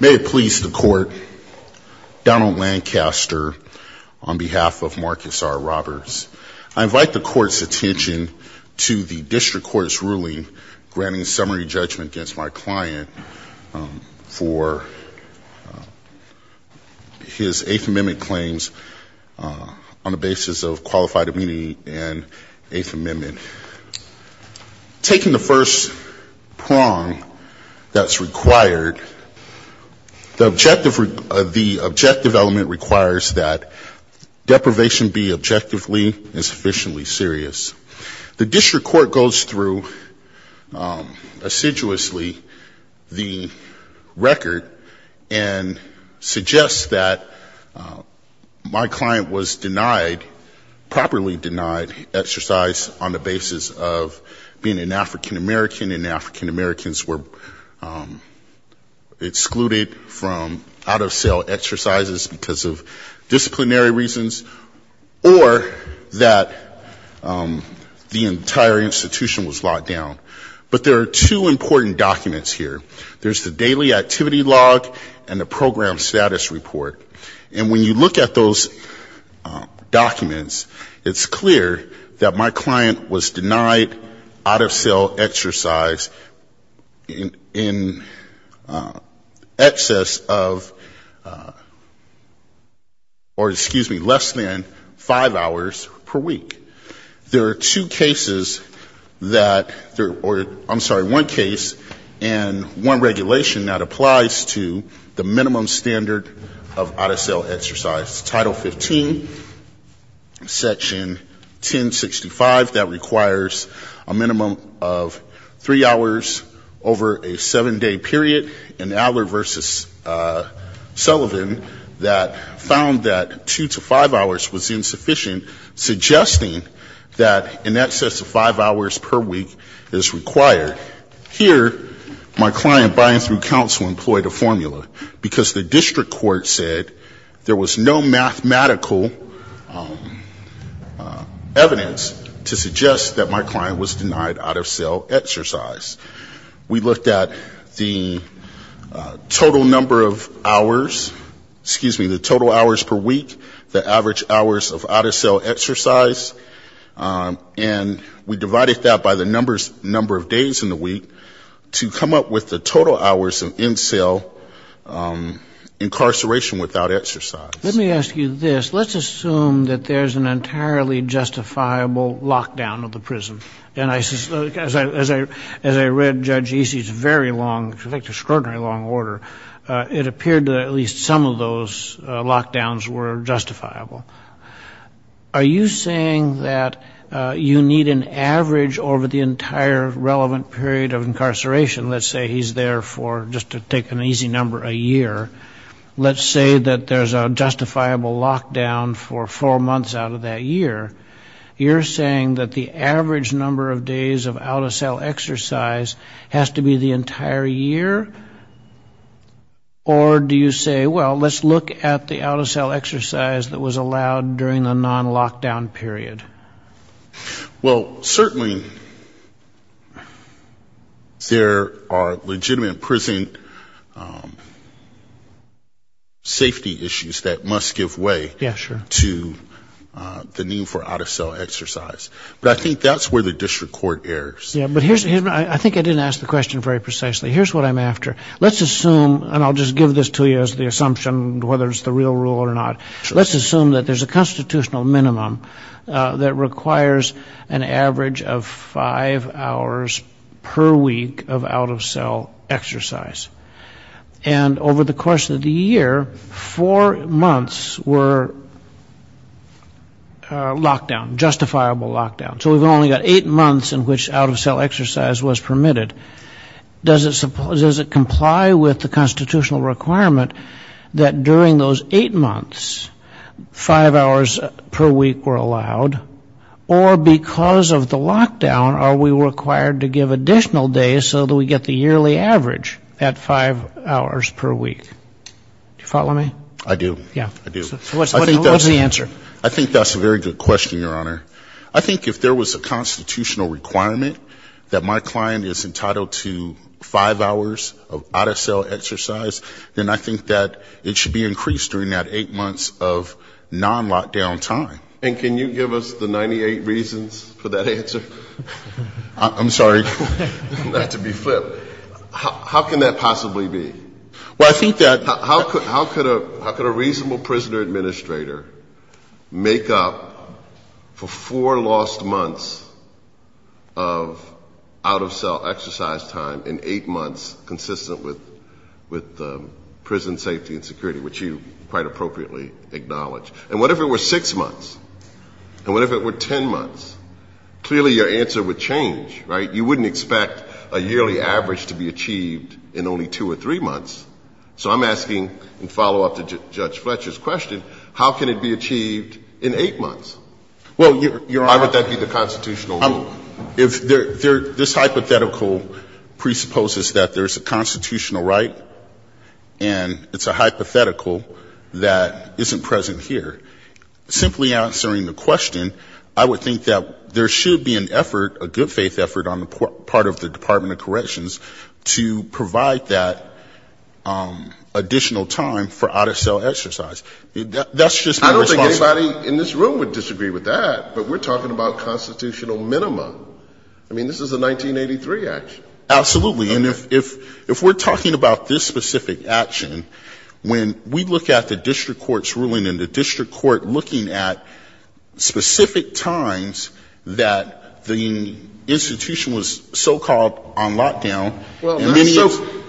May it please the court, Donald Lancaster on behalf of Marcus R. Roberts. I invite the court's attention to the district court's ruling granting summary judgment against my client for his Eighth Amendment claims on the basis of qualified immunity and Eighth Amendment claims. The first prong that's required, the objective element requires that deprivation be objectively and sufficiently serious. The district court goes through assiduously the record and suggests that my client was denied, properly denied exercise on the basis of being an African-American and African-Americans were excluded from out-of-sale exercises because of disciplinary reasons, or that the entire institution was locked down. But there are two important documents here. There's the daily activity log and the program status report. And when you look at those documents, it's clear that my client was denied out-of-sale exercise in excess of, or excuse me, less than five hours per week. There are two cases that, or I'm sorry, one case and one regulation that applies to the minimum standard of out-of-sale exercise. Title 15, section 1065, that requires a minimum of three hours over a seven-day period. And Adler v. Sullivan that found that two to five hours was insufficient, suggesting that in excess of five hours per week is required. Here, my client buying through counsel employed a formula, because the district court said there was no mathematical evidence to suggest that my client was denied out-of-sale exercise. We looked at the total number of hours, excuse me, the total hours per week, the average hours of out-of-sale exercise, and we divided that by the number of days in the week to come up with the total hours of in-sale incarceration without exercise. Let me ask you this. Let's assume that there's an entirely justifiable lockdown of the prison. And as I read Judge Easey's very long, extraordinary long order, it appeared that at least some of those lockdowns were justifiable. Are you saying that you need an average over the entire relevant period of incarceration? Let's say he's there for, just to take an easy number, a year. Let's say that there's a justifiable lockdown for four months out of that year. You're saying that the average number of days of out-of-sale exercise has to be the entire year? Or do you say, well, let's look at the out-of-sale exercise that was allowed during the non-lockdown period? Well, certainly there are legitimate prison safety issues that must give way to the need for out-of-sale exercise. But I think that's where the district court errs. I think I didn't ask the question very precisely. Here's what I'm after. Let's assume, and I'll just give this to you as the assumption, and whether it's the real rule or not. Let's assume that there's a constitutional minimum that requires an average of five hours per week of out-of-sale exercise. And over the course of the year, four months were lockdown, justifiable lockdown. So we've only got eight months in which out-of-sale exercise was permitted. Does it comply with the constitutional requirement that during those eight months, five hours per week were allowed? Or because of the lockdown, are we required to give additional days so that we get the yearly average at five hours per week? Do you follow me? I do. I do. What's the answer? I think that's a very good question, Your Honor. I think if there was a constitutional requirement that my client is entitled to five hours of out-of-sale exercise, then I think that it should be increased during that eight months of non-lockdown time. And can you give us the 98 reasons for that answer? I'm sorry. Not to be flipped. How can that possibly be? Well, I think that — How could a reasonable prisoner administrator make up for four lost months of out-of-sale exercise time in eight months, consistent with prison safety and security, which you quite appropriately acknowledge? And what if it were six months? And what if it were ten months? Clearly, your answer would change, right? You wouldn't expect a yearly average to be achieved in only two or three months. So I'm asking, in follow-up to Judge Fletcher's question, how can it be achieved in eight months? Well, Your Honor — Why would that be the constitutional rule? This hypothetical presupposes that there's a constitutional right, and it's a hypothetical that isn't present here. Simply answering the question, I would think that there should be an effort, a good-faith effort on the part of the Department of Corrections to provide that additional time for out-of-sale exercise. That's just my response. I don't think anybody in this room would disagree with that, but we're talking about constitutional minima. I mean, this is a 1983 action. Absolutely. Okay. We're talking about this specific action when we look at the district court's ruling and the district court looking at specific times that the institution was so-called on lockdown. Well,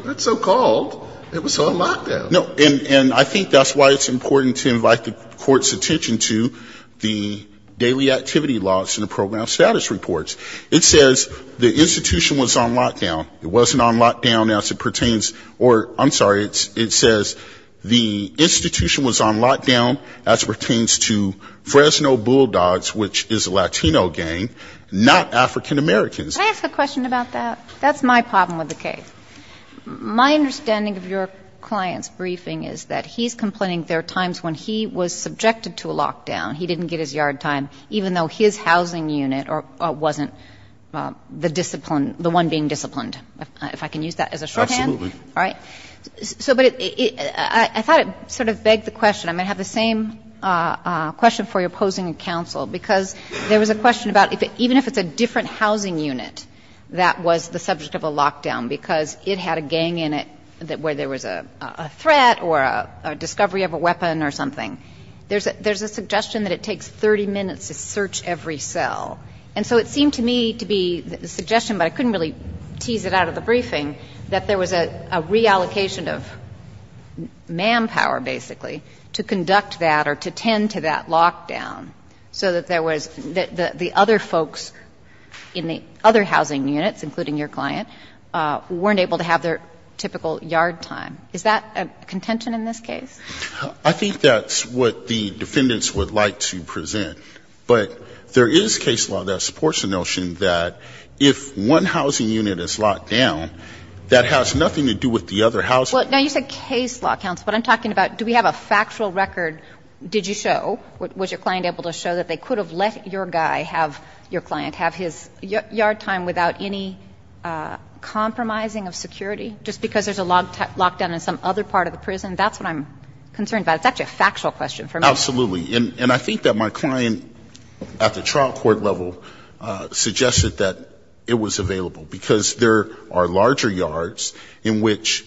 not so called. It was on lockdown. No. And I think that's why it's important to invite the Court's attention to the daily activity laws in the program status reports. It says the institution was on lockdown. It wasn't on lockdown as it pertains or — I'm sorry. It says the institution was on lockdown as it pertains to Fresno Bulldogs, which is a Latino gang, not African-Americans. Can I ask a question about that? That's my problem with the case. My understanding of your client's briefing is that he's complaining there are times when he was subjected to a lockdown. He didn't get his yard time, even though his housing unit wasn't the discipline — the one being disciplined. If I can use that as a shorthand? Absolutely. All right. So — but I thought it sort of begged the question. I'm going to have the same question for your opposing counsel, because there was a question about even if it's a different housing unit that was the subject of a lockdown because it had a gang in it where there was a threat or a discovery of a weapon or something. There's a suggestion that it takes 30 minutes to search every cell. And so it seemed to me to be a suggestion, but I couldn't really tease it out of the briefing, that there was a reallocation of manpower, basically, to conduct that or to tend to that lockdown so that there was — that the other folks in the other housing units, including your client, weren't able to have their typical yard time. Is that a contention in this case? I think that's what the defendants would like to present. But there is case law that supports the notion that if one housing unit is locked down, that has nothing to do with the other housing units. Well, now, you said case law, counsel. What I'm talking about, do we have a factual record? Did you show? Was your client able to show that they could have let your guy have — your client have his yard time without any compromising of security just because there's a lockdown in some other part of the prison? That's what I'm concerned about. It's actually a factual question for me. Absolutely. And I think that my client at the trial court level suggested that it was available, because there are larger yards in which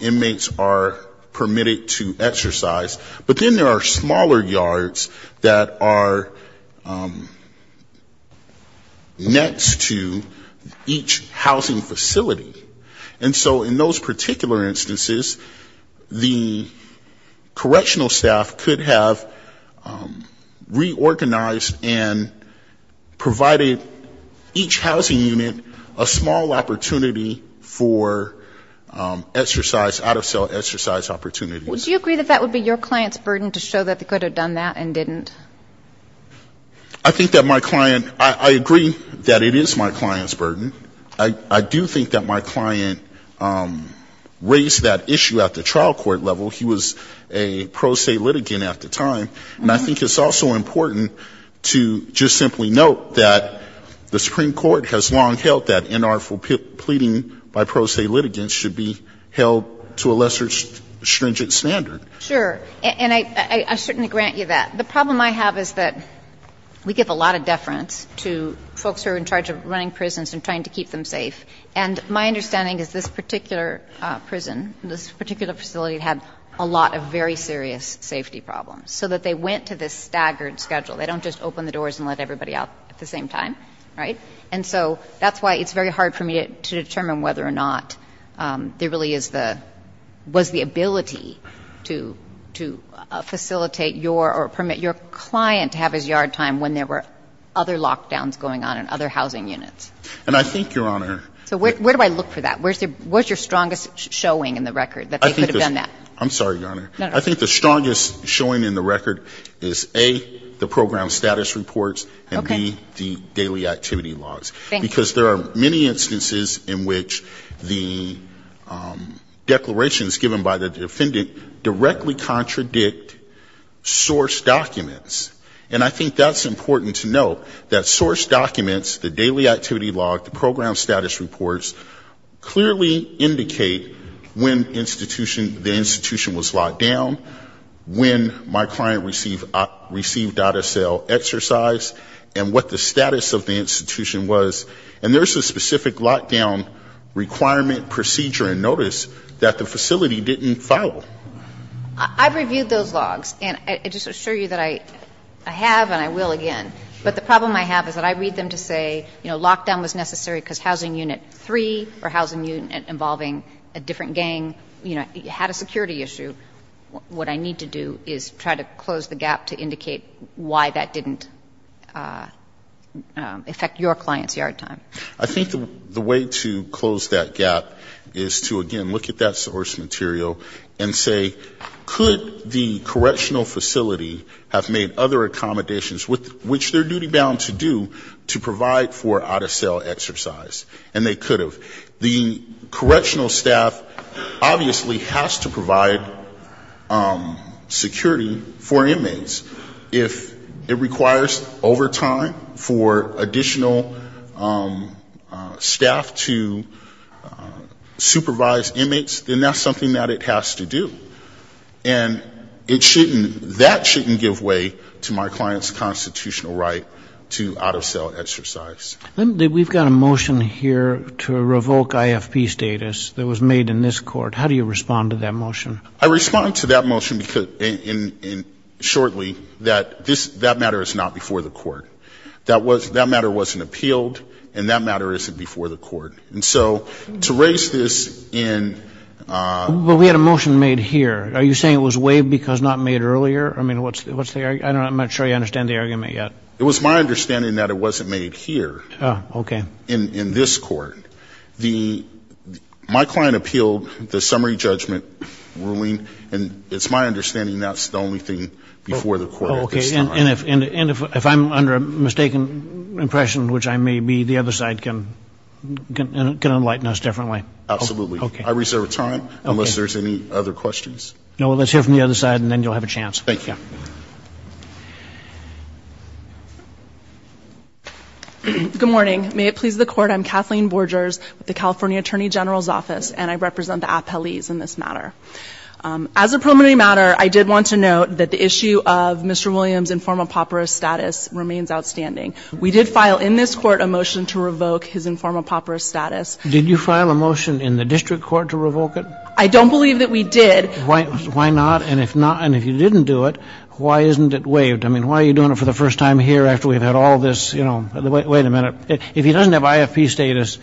inmates are permitted to exercise, but then there are smaller yards that are next to each housing facility. And so in those particular instances, the correctional staff could have reorganized and provided each housing unit a small opportunity for exercise, out-of-cell exercise opportunities. Would you agree that that would be your client's burden to show that they could have done that and didn't? I think that my client — I agree that it is my client's burden. I do think that my client raised that issue at the trial court level. He was a pro se litigant at the time. And I think it's also important to just simply note that the Supreme Court has long held that inartful pleading by pro se litigants should be held to a lesser stringent standard. Sure. And I certainly grant you that. The problem I have is that we give a lot of deference to folks who are in charge of running prisons and trying to keep them safe. And my understanding is this particular prison, this particular facility had a lot of very serious safety problems, so that they went to this staggered schedule. They don't just open the doors and let everybody out at the same time. Right? And so that's why it's very hard for me to determine whether or not there really is the — was the ability to facilitate your — or permit your client to have his yard time when there were other lockdowns going on in other housing units. And I think, Your Honor — So where do I look for that? Where's your strongest showing in the record that they could have done that? I'm sorry, Your Honor. No, no. I think the strongest showing in the record is, A, the program status reports, and, B, the daily activity logs. Thank you. Because there are many instances in which the declarations given by the defendant directly contradict source documents. And I think that's important to note, that source documents, the daily activity log, the program status reports, clearly indicate when the institution was locked down, when my client received out-of-sale exercise, and what the status of the institution was. And there's a specific lockdown requirement procedure in notice that the facility didn't follow. I've reviewed those logs, and I just assure you that I have and I will again. But the problem I have is that I read them to say, you know, lockdown was necessary because housing unit 3 or housing unit involving a different gang, you know, had a security issue. What I need to do is try to close the gap to indicate why that didn't affect your client's yard time. I think the way to close that gap is to, again, look at that source material and say, could the correctional facility have made other accommodations, which they're duty-bound to do, to provide for out-of-sale exercise? And they could have. The correctional staff obviously has to provide security for inmates. If it requires overtime for additional staff to supervise inmates, then that's something that it has to do. And that shouldn't give way to my client's constitutional right to out-of-sale exercise. We've got a motion here to revoke IFP status that was made in this court. How do you respond to that motion? I respond to that motion shortly that that matter is not before the court. That matter wasn't appealed, and that matter isn't before the court. And so to raise this in ---- But we had a motion made here. Are you saying it was waived because not made earlier? I mean, what's the argument? I'm not sure you understand the argument yet. It was my understanding that it wasn't made here. Oh, okay. In this court. My client appealed the summary judgment ruling, and it's my understanding that's the only thing before the court at this time. And if I'm under a mistaken impression, which I may be, the other side can enlighten us differently. Absolutely. I reserve time unless there's any other questions. No, let's hear from the other side, and then you'll have a chance. Thank you. Good morning. May it please the Court, I'm Kathleen Borgers with the California Attorney General's Office, and I represent the appellees in this matter. As a preliminary matter, I did want to note that the issue of Mr. Williams' informal papyrus status remains outstanding. We did file in this court a motion to revoke his informal papyrus status. Did you file a motion in the district court to revoke it? I don't believe that we did. Why not? And if not, and if you didn't do it, why isn't it waived? I mean, why are you doing it for the first time here after we've had all this, you know, wait a minute. If he doesn't have IFP status,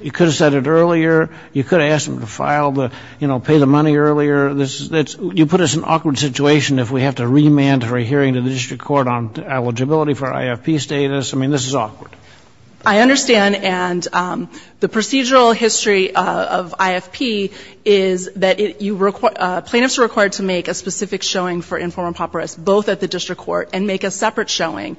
you could have said it earlier. You could have asked him to file the, you know, pay the money earlier. You put us in an awkward situation if we have to remand for a hearing to the district court on eligibility for IFP status. I mean, this is awkward. I understand. And the procedural history of IFP is that plaintiffs are required to make a specific showing for informal papyrus both at the district court and make a separate showing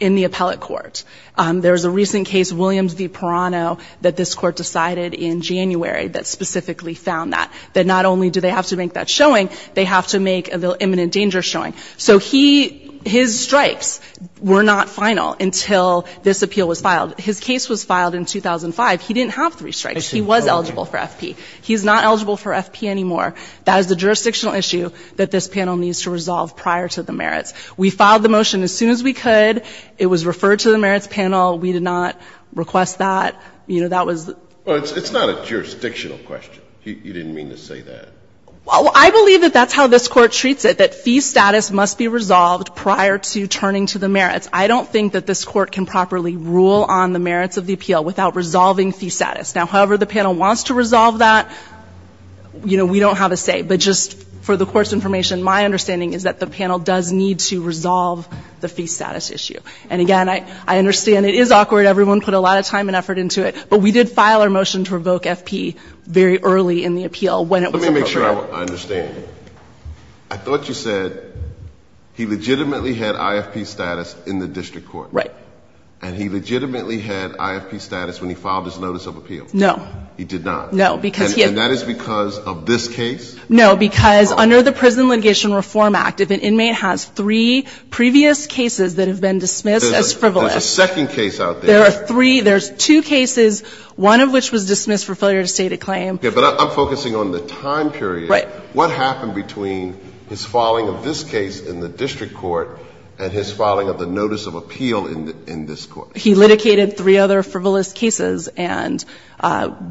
in the appellate court. There was a recent case, Williams v. Perano, that this Court decided in January that specifically found that, that not only do they have to make that showing, they have to make the imminent danger showing. So he, his strikes were not final until this appeal was filed. His case was filed in 2005. He didn't have three strikes. He was eligible for FP. He's not eligible for FP anymore. That is the jurisdictional issue that this panel needs to resolve prior to the merits. We filed the motion as soon as we could. It was referred to the merits panel. We did not request that. You know, that was the ---- Well, it's not a jurisdictional question. You didn't mean to say that. Well, I believe that that's how this Court treats it, that fee status must be resolved prior to turning to the merits. I don't think that this Court can properly rule on the merits of the appeal without resolving fee status. Now, however the panel wants to resolve that, you know, we don't have a say. But just for the Court's information, my understanding is that the panel does need to resolve the fee status issue. And again, I understand it is awkward. Everyone put a lot of time and effort into it. But we did file our motion to revoke FP very early in the appeal when it was referred to. Let me make sure I understand. I thought you said he legitimately had IFP status in the district court. Right. And he legitimately had IFP status when he filed his notice of appeal. No. He did not. No, because he had ---- And that is because of this case? No, because under the Prison Litigation Reform Act, if an inmate has three previous cases that have been dismissed as frivolous ---- There's a second case out there. There are three. There's two cases, one of which was dismissed for failure to state a claim. Okay. But I'm focusing on the time period. Right. What happened between his filing of this case in the district court and his filing of the notice of appeal in this Court? He litigated three other frivolous cases and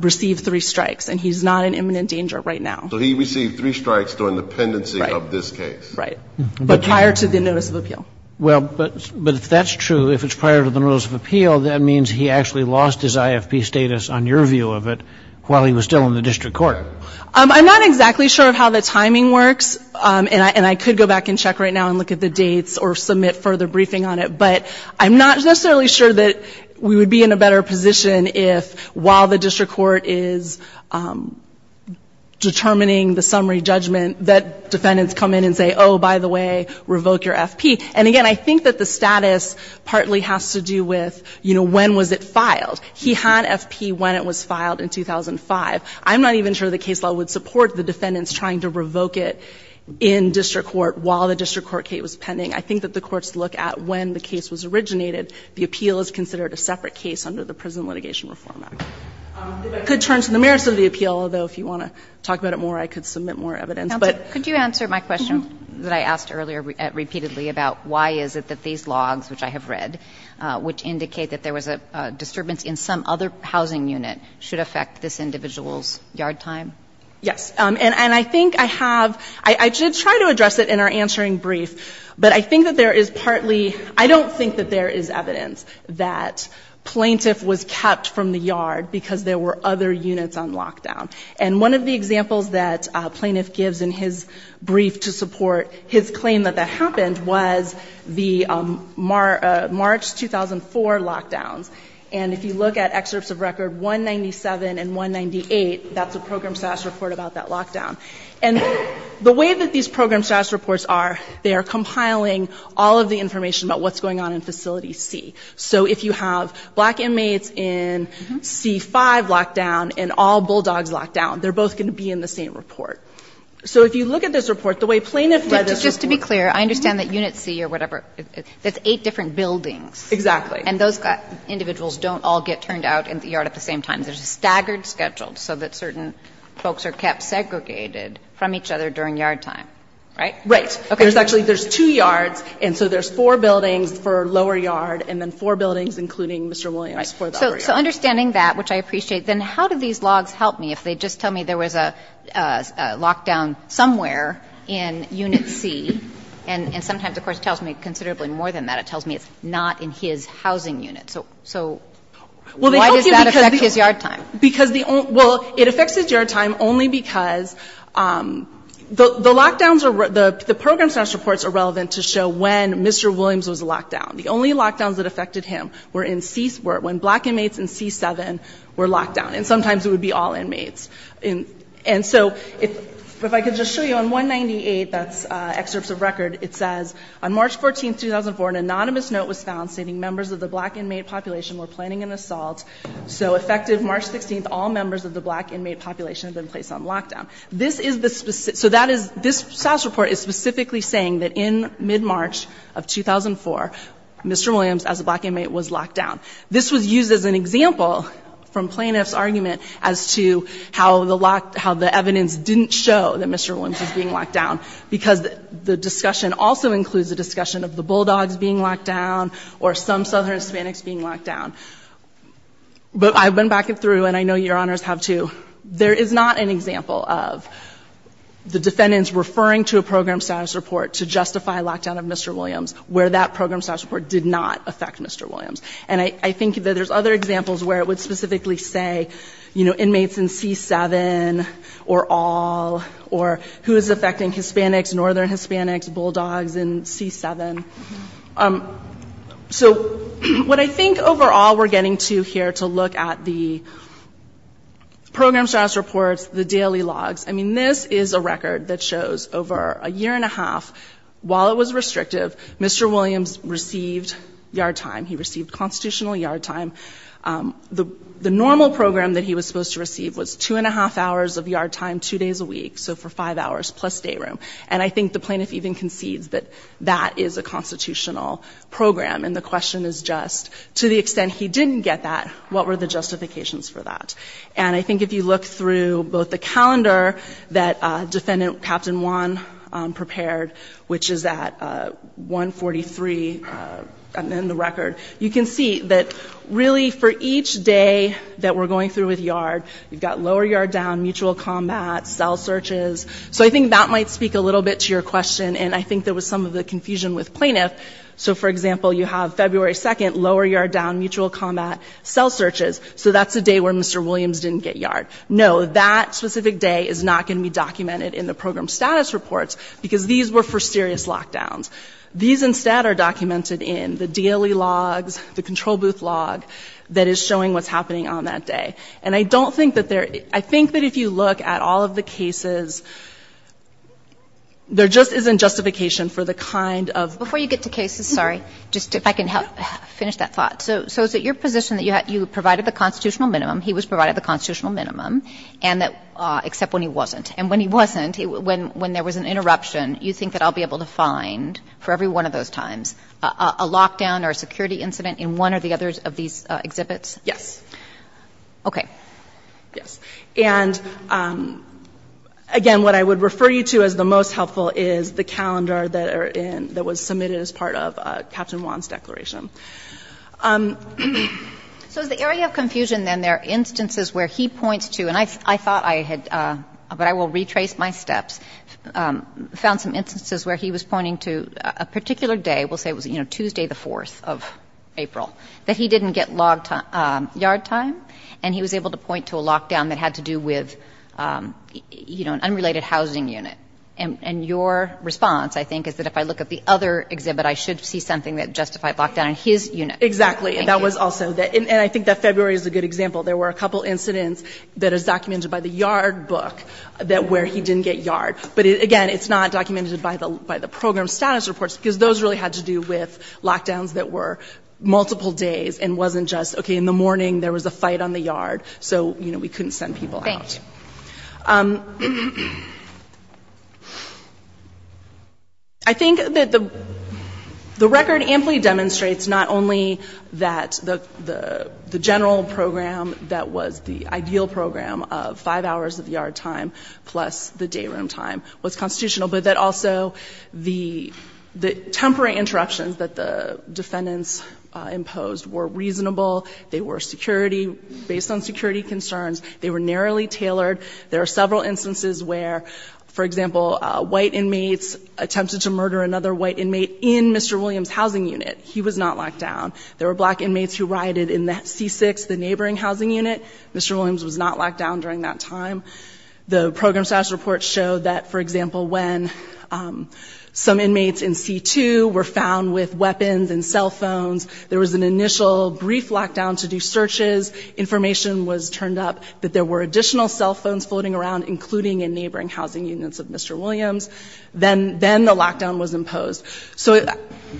received three strikes. And he's not in imminent danger right now. So he received three strikes during the pendency of this case. Right. But prior to the notice of appeal. Well, but if that's true, if it's prior to the notice of appeal, that means he actually lost his IFP status on your view of it while he was still in the district court. I'm not exactly sure of how the timing works, and I could go back and check right now and look at the dates or submit further briefing on it. But I'm not necessarily sure that we would be in a better position if while the summary judgment that defendants come in and say, oh, by the way, revoke your FP. And again, I think that the status partly has to do with, you know, when was it filed. He had FP when it was filed in 2005. I'm not even sure the case law would support the defendants trying to revoke it in district court while the district court case was pending. I think that the courts look at when the case was originated. The appeal is considered a separate case under the Prison Litigation Reform Act. I could turn to the merits of the appeal, although if you want to talk about it more, I could submit more evidence. But. Kagan. Could you answer my question that I asked earlier repeatedly about why is it that these logs, which I have read, which indicate that there was a disturbance in some other housing unit, should affect this individual's yard time? Yes. And I think I have – I did try to address it in our answering brief, but I think that there is partly – I don't think that there is evidence that plaintiff was kept from the yard because there were other units on lockdown. And one of the examples that plaintiff gives in his brief to support his claim that that happened was the March 2004 lockdowns. And if you look at excerpts of record 197 and 198, that's a program status report about that lockdown. And the way that these program status reports are, they are compiling all of the information about what's going on in Facility C. So if you have black inmates in C-5 lockdown and all bulldogs lockdown, they're both going to be in the same report. So if you look at this report, the way plaintiff read this report. But just to be clear, I understand that Unit C or whatever, that's eight different buildings. Exactly. And those individuals don't all get turned out in the yard at the same time. There's a staggered schedule so that certain folks are kept segregated from each other during yard time. Right? Right. Okay. So there's actually there's two yards. And so there's four buildings for lower yard and then four buildings, including Mr. Williams. Right. So understanding that, which I appreciate, then how do these logs help me if they just tell me there was a lockdown somewhere in Unit C? And sometimes, of course, tells me considerably more than that. It tells me it's not in his housing unit. So why does that affect his yard time? Well, it affects his yard time only because the lockdowns are the program's reports are relevant to show when Mr. Williams was locked down. The only lockdowns that affected him were when black inmates in C-7 were locked down. And sometimes it would be all inmates. And so if I could just show you on 198, that's excerpts of record, it says, on March 14, 2004, an anonymous note was found stating members of the black inmate population were planning an assault. So effective March 16, all members of the black inmate population have been placed on lockdown. This is the specific, so that is, this SAS report is specifically saying that in mid-March of 2004, Mr. Williams, as a black inmate, was locked down. This was used as an example from plaintiff's argument as to how the evidence didn't show that Mr. Williams was being locked down because the discussion also includes the discussion of the Bulldogs being locked down or some Southern Hispanics being locked down. But I've been back and through, and I know Your Honors have too. There is not an example of the defendants referring to a program status report to justify lockdown of Mr. Williams where that program status report did not affect Mr. Williams. And I think that there's other examples where it would specifically say, you know, inmates in C-7 or all, or who is affecting Hispanics, Northern Hispanics, Bulldogs in C-7. So what I think overall we're getting to here to look at the program status reports, the daily logs, I mean, this is a record that shows over a year and a half, while it was restrictive, Mr. Williams received yard time. He received constitutional yard time. The normal program that he was supposed to receive was two and a half hours of yard time, two days a week, so for five hours plus stay room. And I think the plaintiff even concedes that that is a constitutional program. And the question is just, to the extent he didn't get that, what were the justifications for that? And I think if you look through both the calendar that Defendant Captain Juan prepared, which is at 143, and then the record, you can see that really for each day that we're going through with yard, you've got lower yard down, mutual combat, cell searches. So I think that might speak a little bit to your question, and I think there was some of the confusion with plaintiff. So, for example, you have February 2nd, lower yard down, mutual combat, cell searches, so that's the day where Mr. Williams didn't get yard. No, that specific day is not going to be documented in the program status reports, because these were for serious lockdowns. These instead are documented in the daily logs, the control booth log that is showing what's happening on that day. And I don't think that there – I think that if you look at all of the cases, there just isn't justification for the kind of – Before you get to cases, sorry, just if I can finish that thought. So is it your position that you provided the constitutional minimum, he was provided the constitutional minimum, and that – except when he wasn't. And when he wasn't, when there was an interruption, you think that I'll be able to find, for every one of those times, a lockdown or a security incident in one or the others of these exhibits? Yes. Okay. Yes. And, again, what I would refer you to as the most helpful is the calendar that are in – that was submitted as part of Captain Wan's declaration. So is the area of confusion, then, there are instances where he points to – and I thought I had – but I will retrace my steps – found some instances where he was pointing to a particular day – we'll say it was, you know, Tuesday the 4th of April – that he didn't get yard time, and he was able to point to a lockdown that had to do with, you know, an unrelated housing unit. And your response, I think, is that if I look at the other exhibit, I should see something that justified lockdown in his unit. Exactly. And that was also – and I think that February is a good example. There were a couple incidents that is documented by the yard book where he didn't get yard. But, again, it's not documented by the program status reports because those really had to do with lockdowns that were multiple days and wasn't just, okay, in the morning there was a fight on the yard, so, you know, we couldn't send people out. Thank you. I think that the record amply demonstrates not only that the general program that was the ideal program of five hours of yard time plus the day room time was constitutional, but that also the temporary interruptions that the defendants imposed were reasonable. They were security – based on security concerns. They were narrowly tailored. There are several instances where, for example, white inmates attempted to murder another white inmate in Mr. Williams' housing unit. He was not locked down. There were black inmates who rioted in C6, the neighboring housing unit. Mr. Williams was not locked down during that time. The program status reports show that, for example, when some inmates in C2 were found with weapons and cell phones, there was an initial brief lockdown to do searches. Information was turned up that there were additional cell phones floating around, including in neighboring housing units of Mr. Williams. Then the lockdown was imposed. So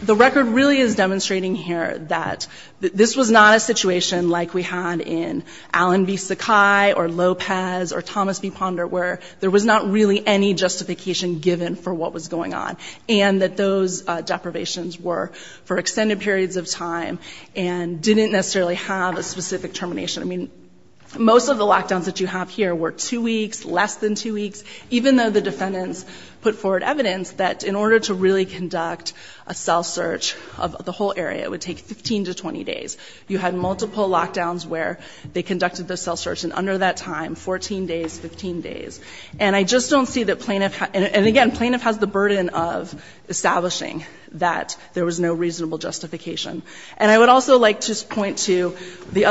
the record really is demonstrating here that this was not a situation like we Thomas v. Ponder, where there was not really any justification given for what was going on, and that those deprivations were for extended periods of time and didn't necessarily have a specific termination. I mean, most of the lockdowns that you have here were two weeks, less than two weeks, even though the defendants put forward evidence that in order to really conduct a cell search of the whole area, it would take 15 to 20 days. You had multiple lockdowns where they conducted the cell search, and under that time, 14 days, 15 days. And I just don't see that plaintiff – and, again, plaintiff has the burden of establishing that there was no reasonable justification. And I would also like to point to the other –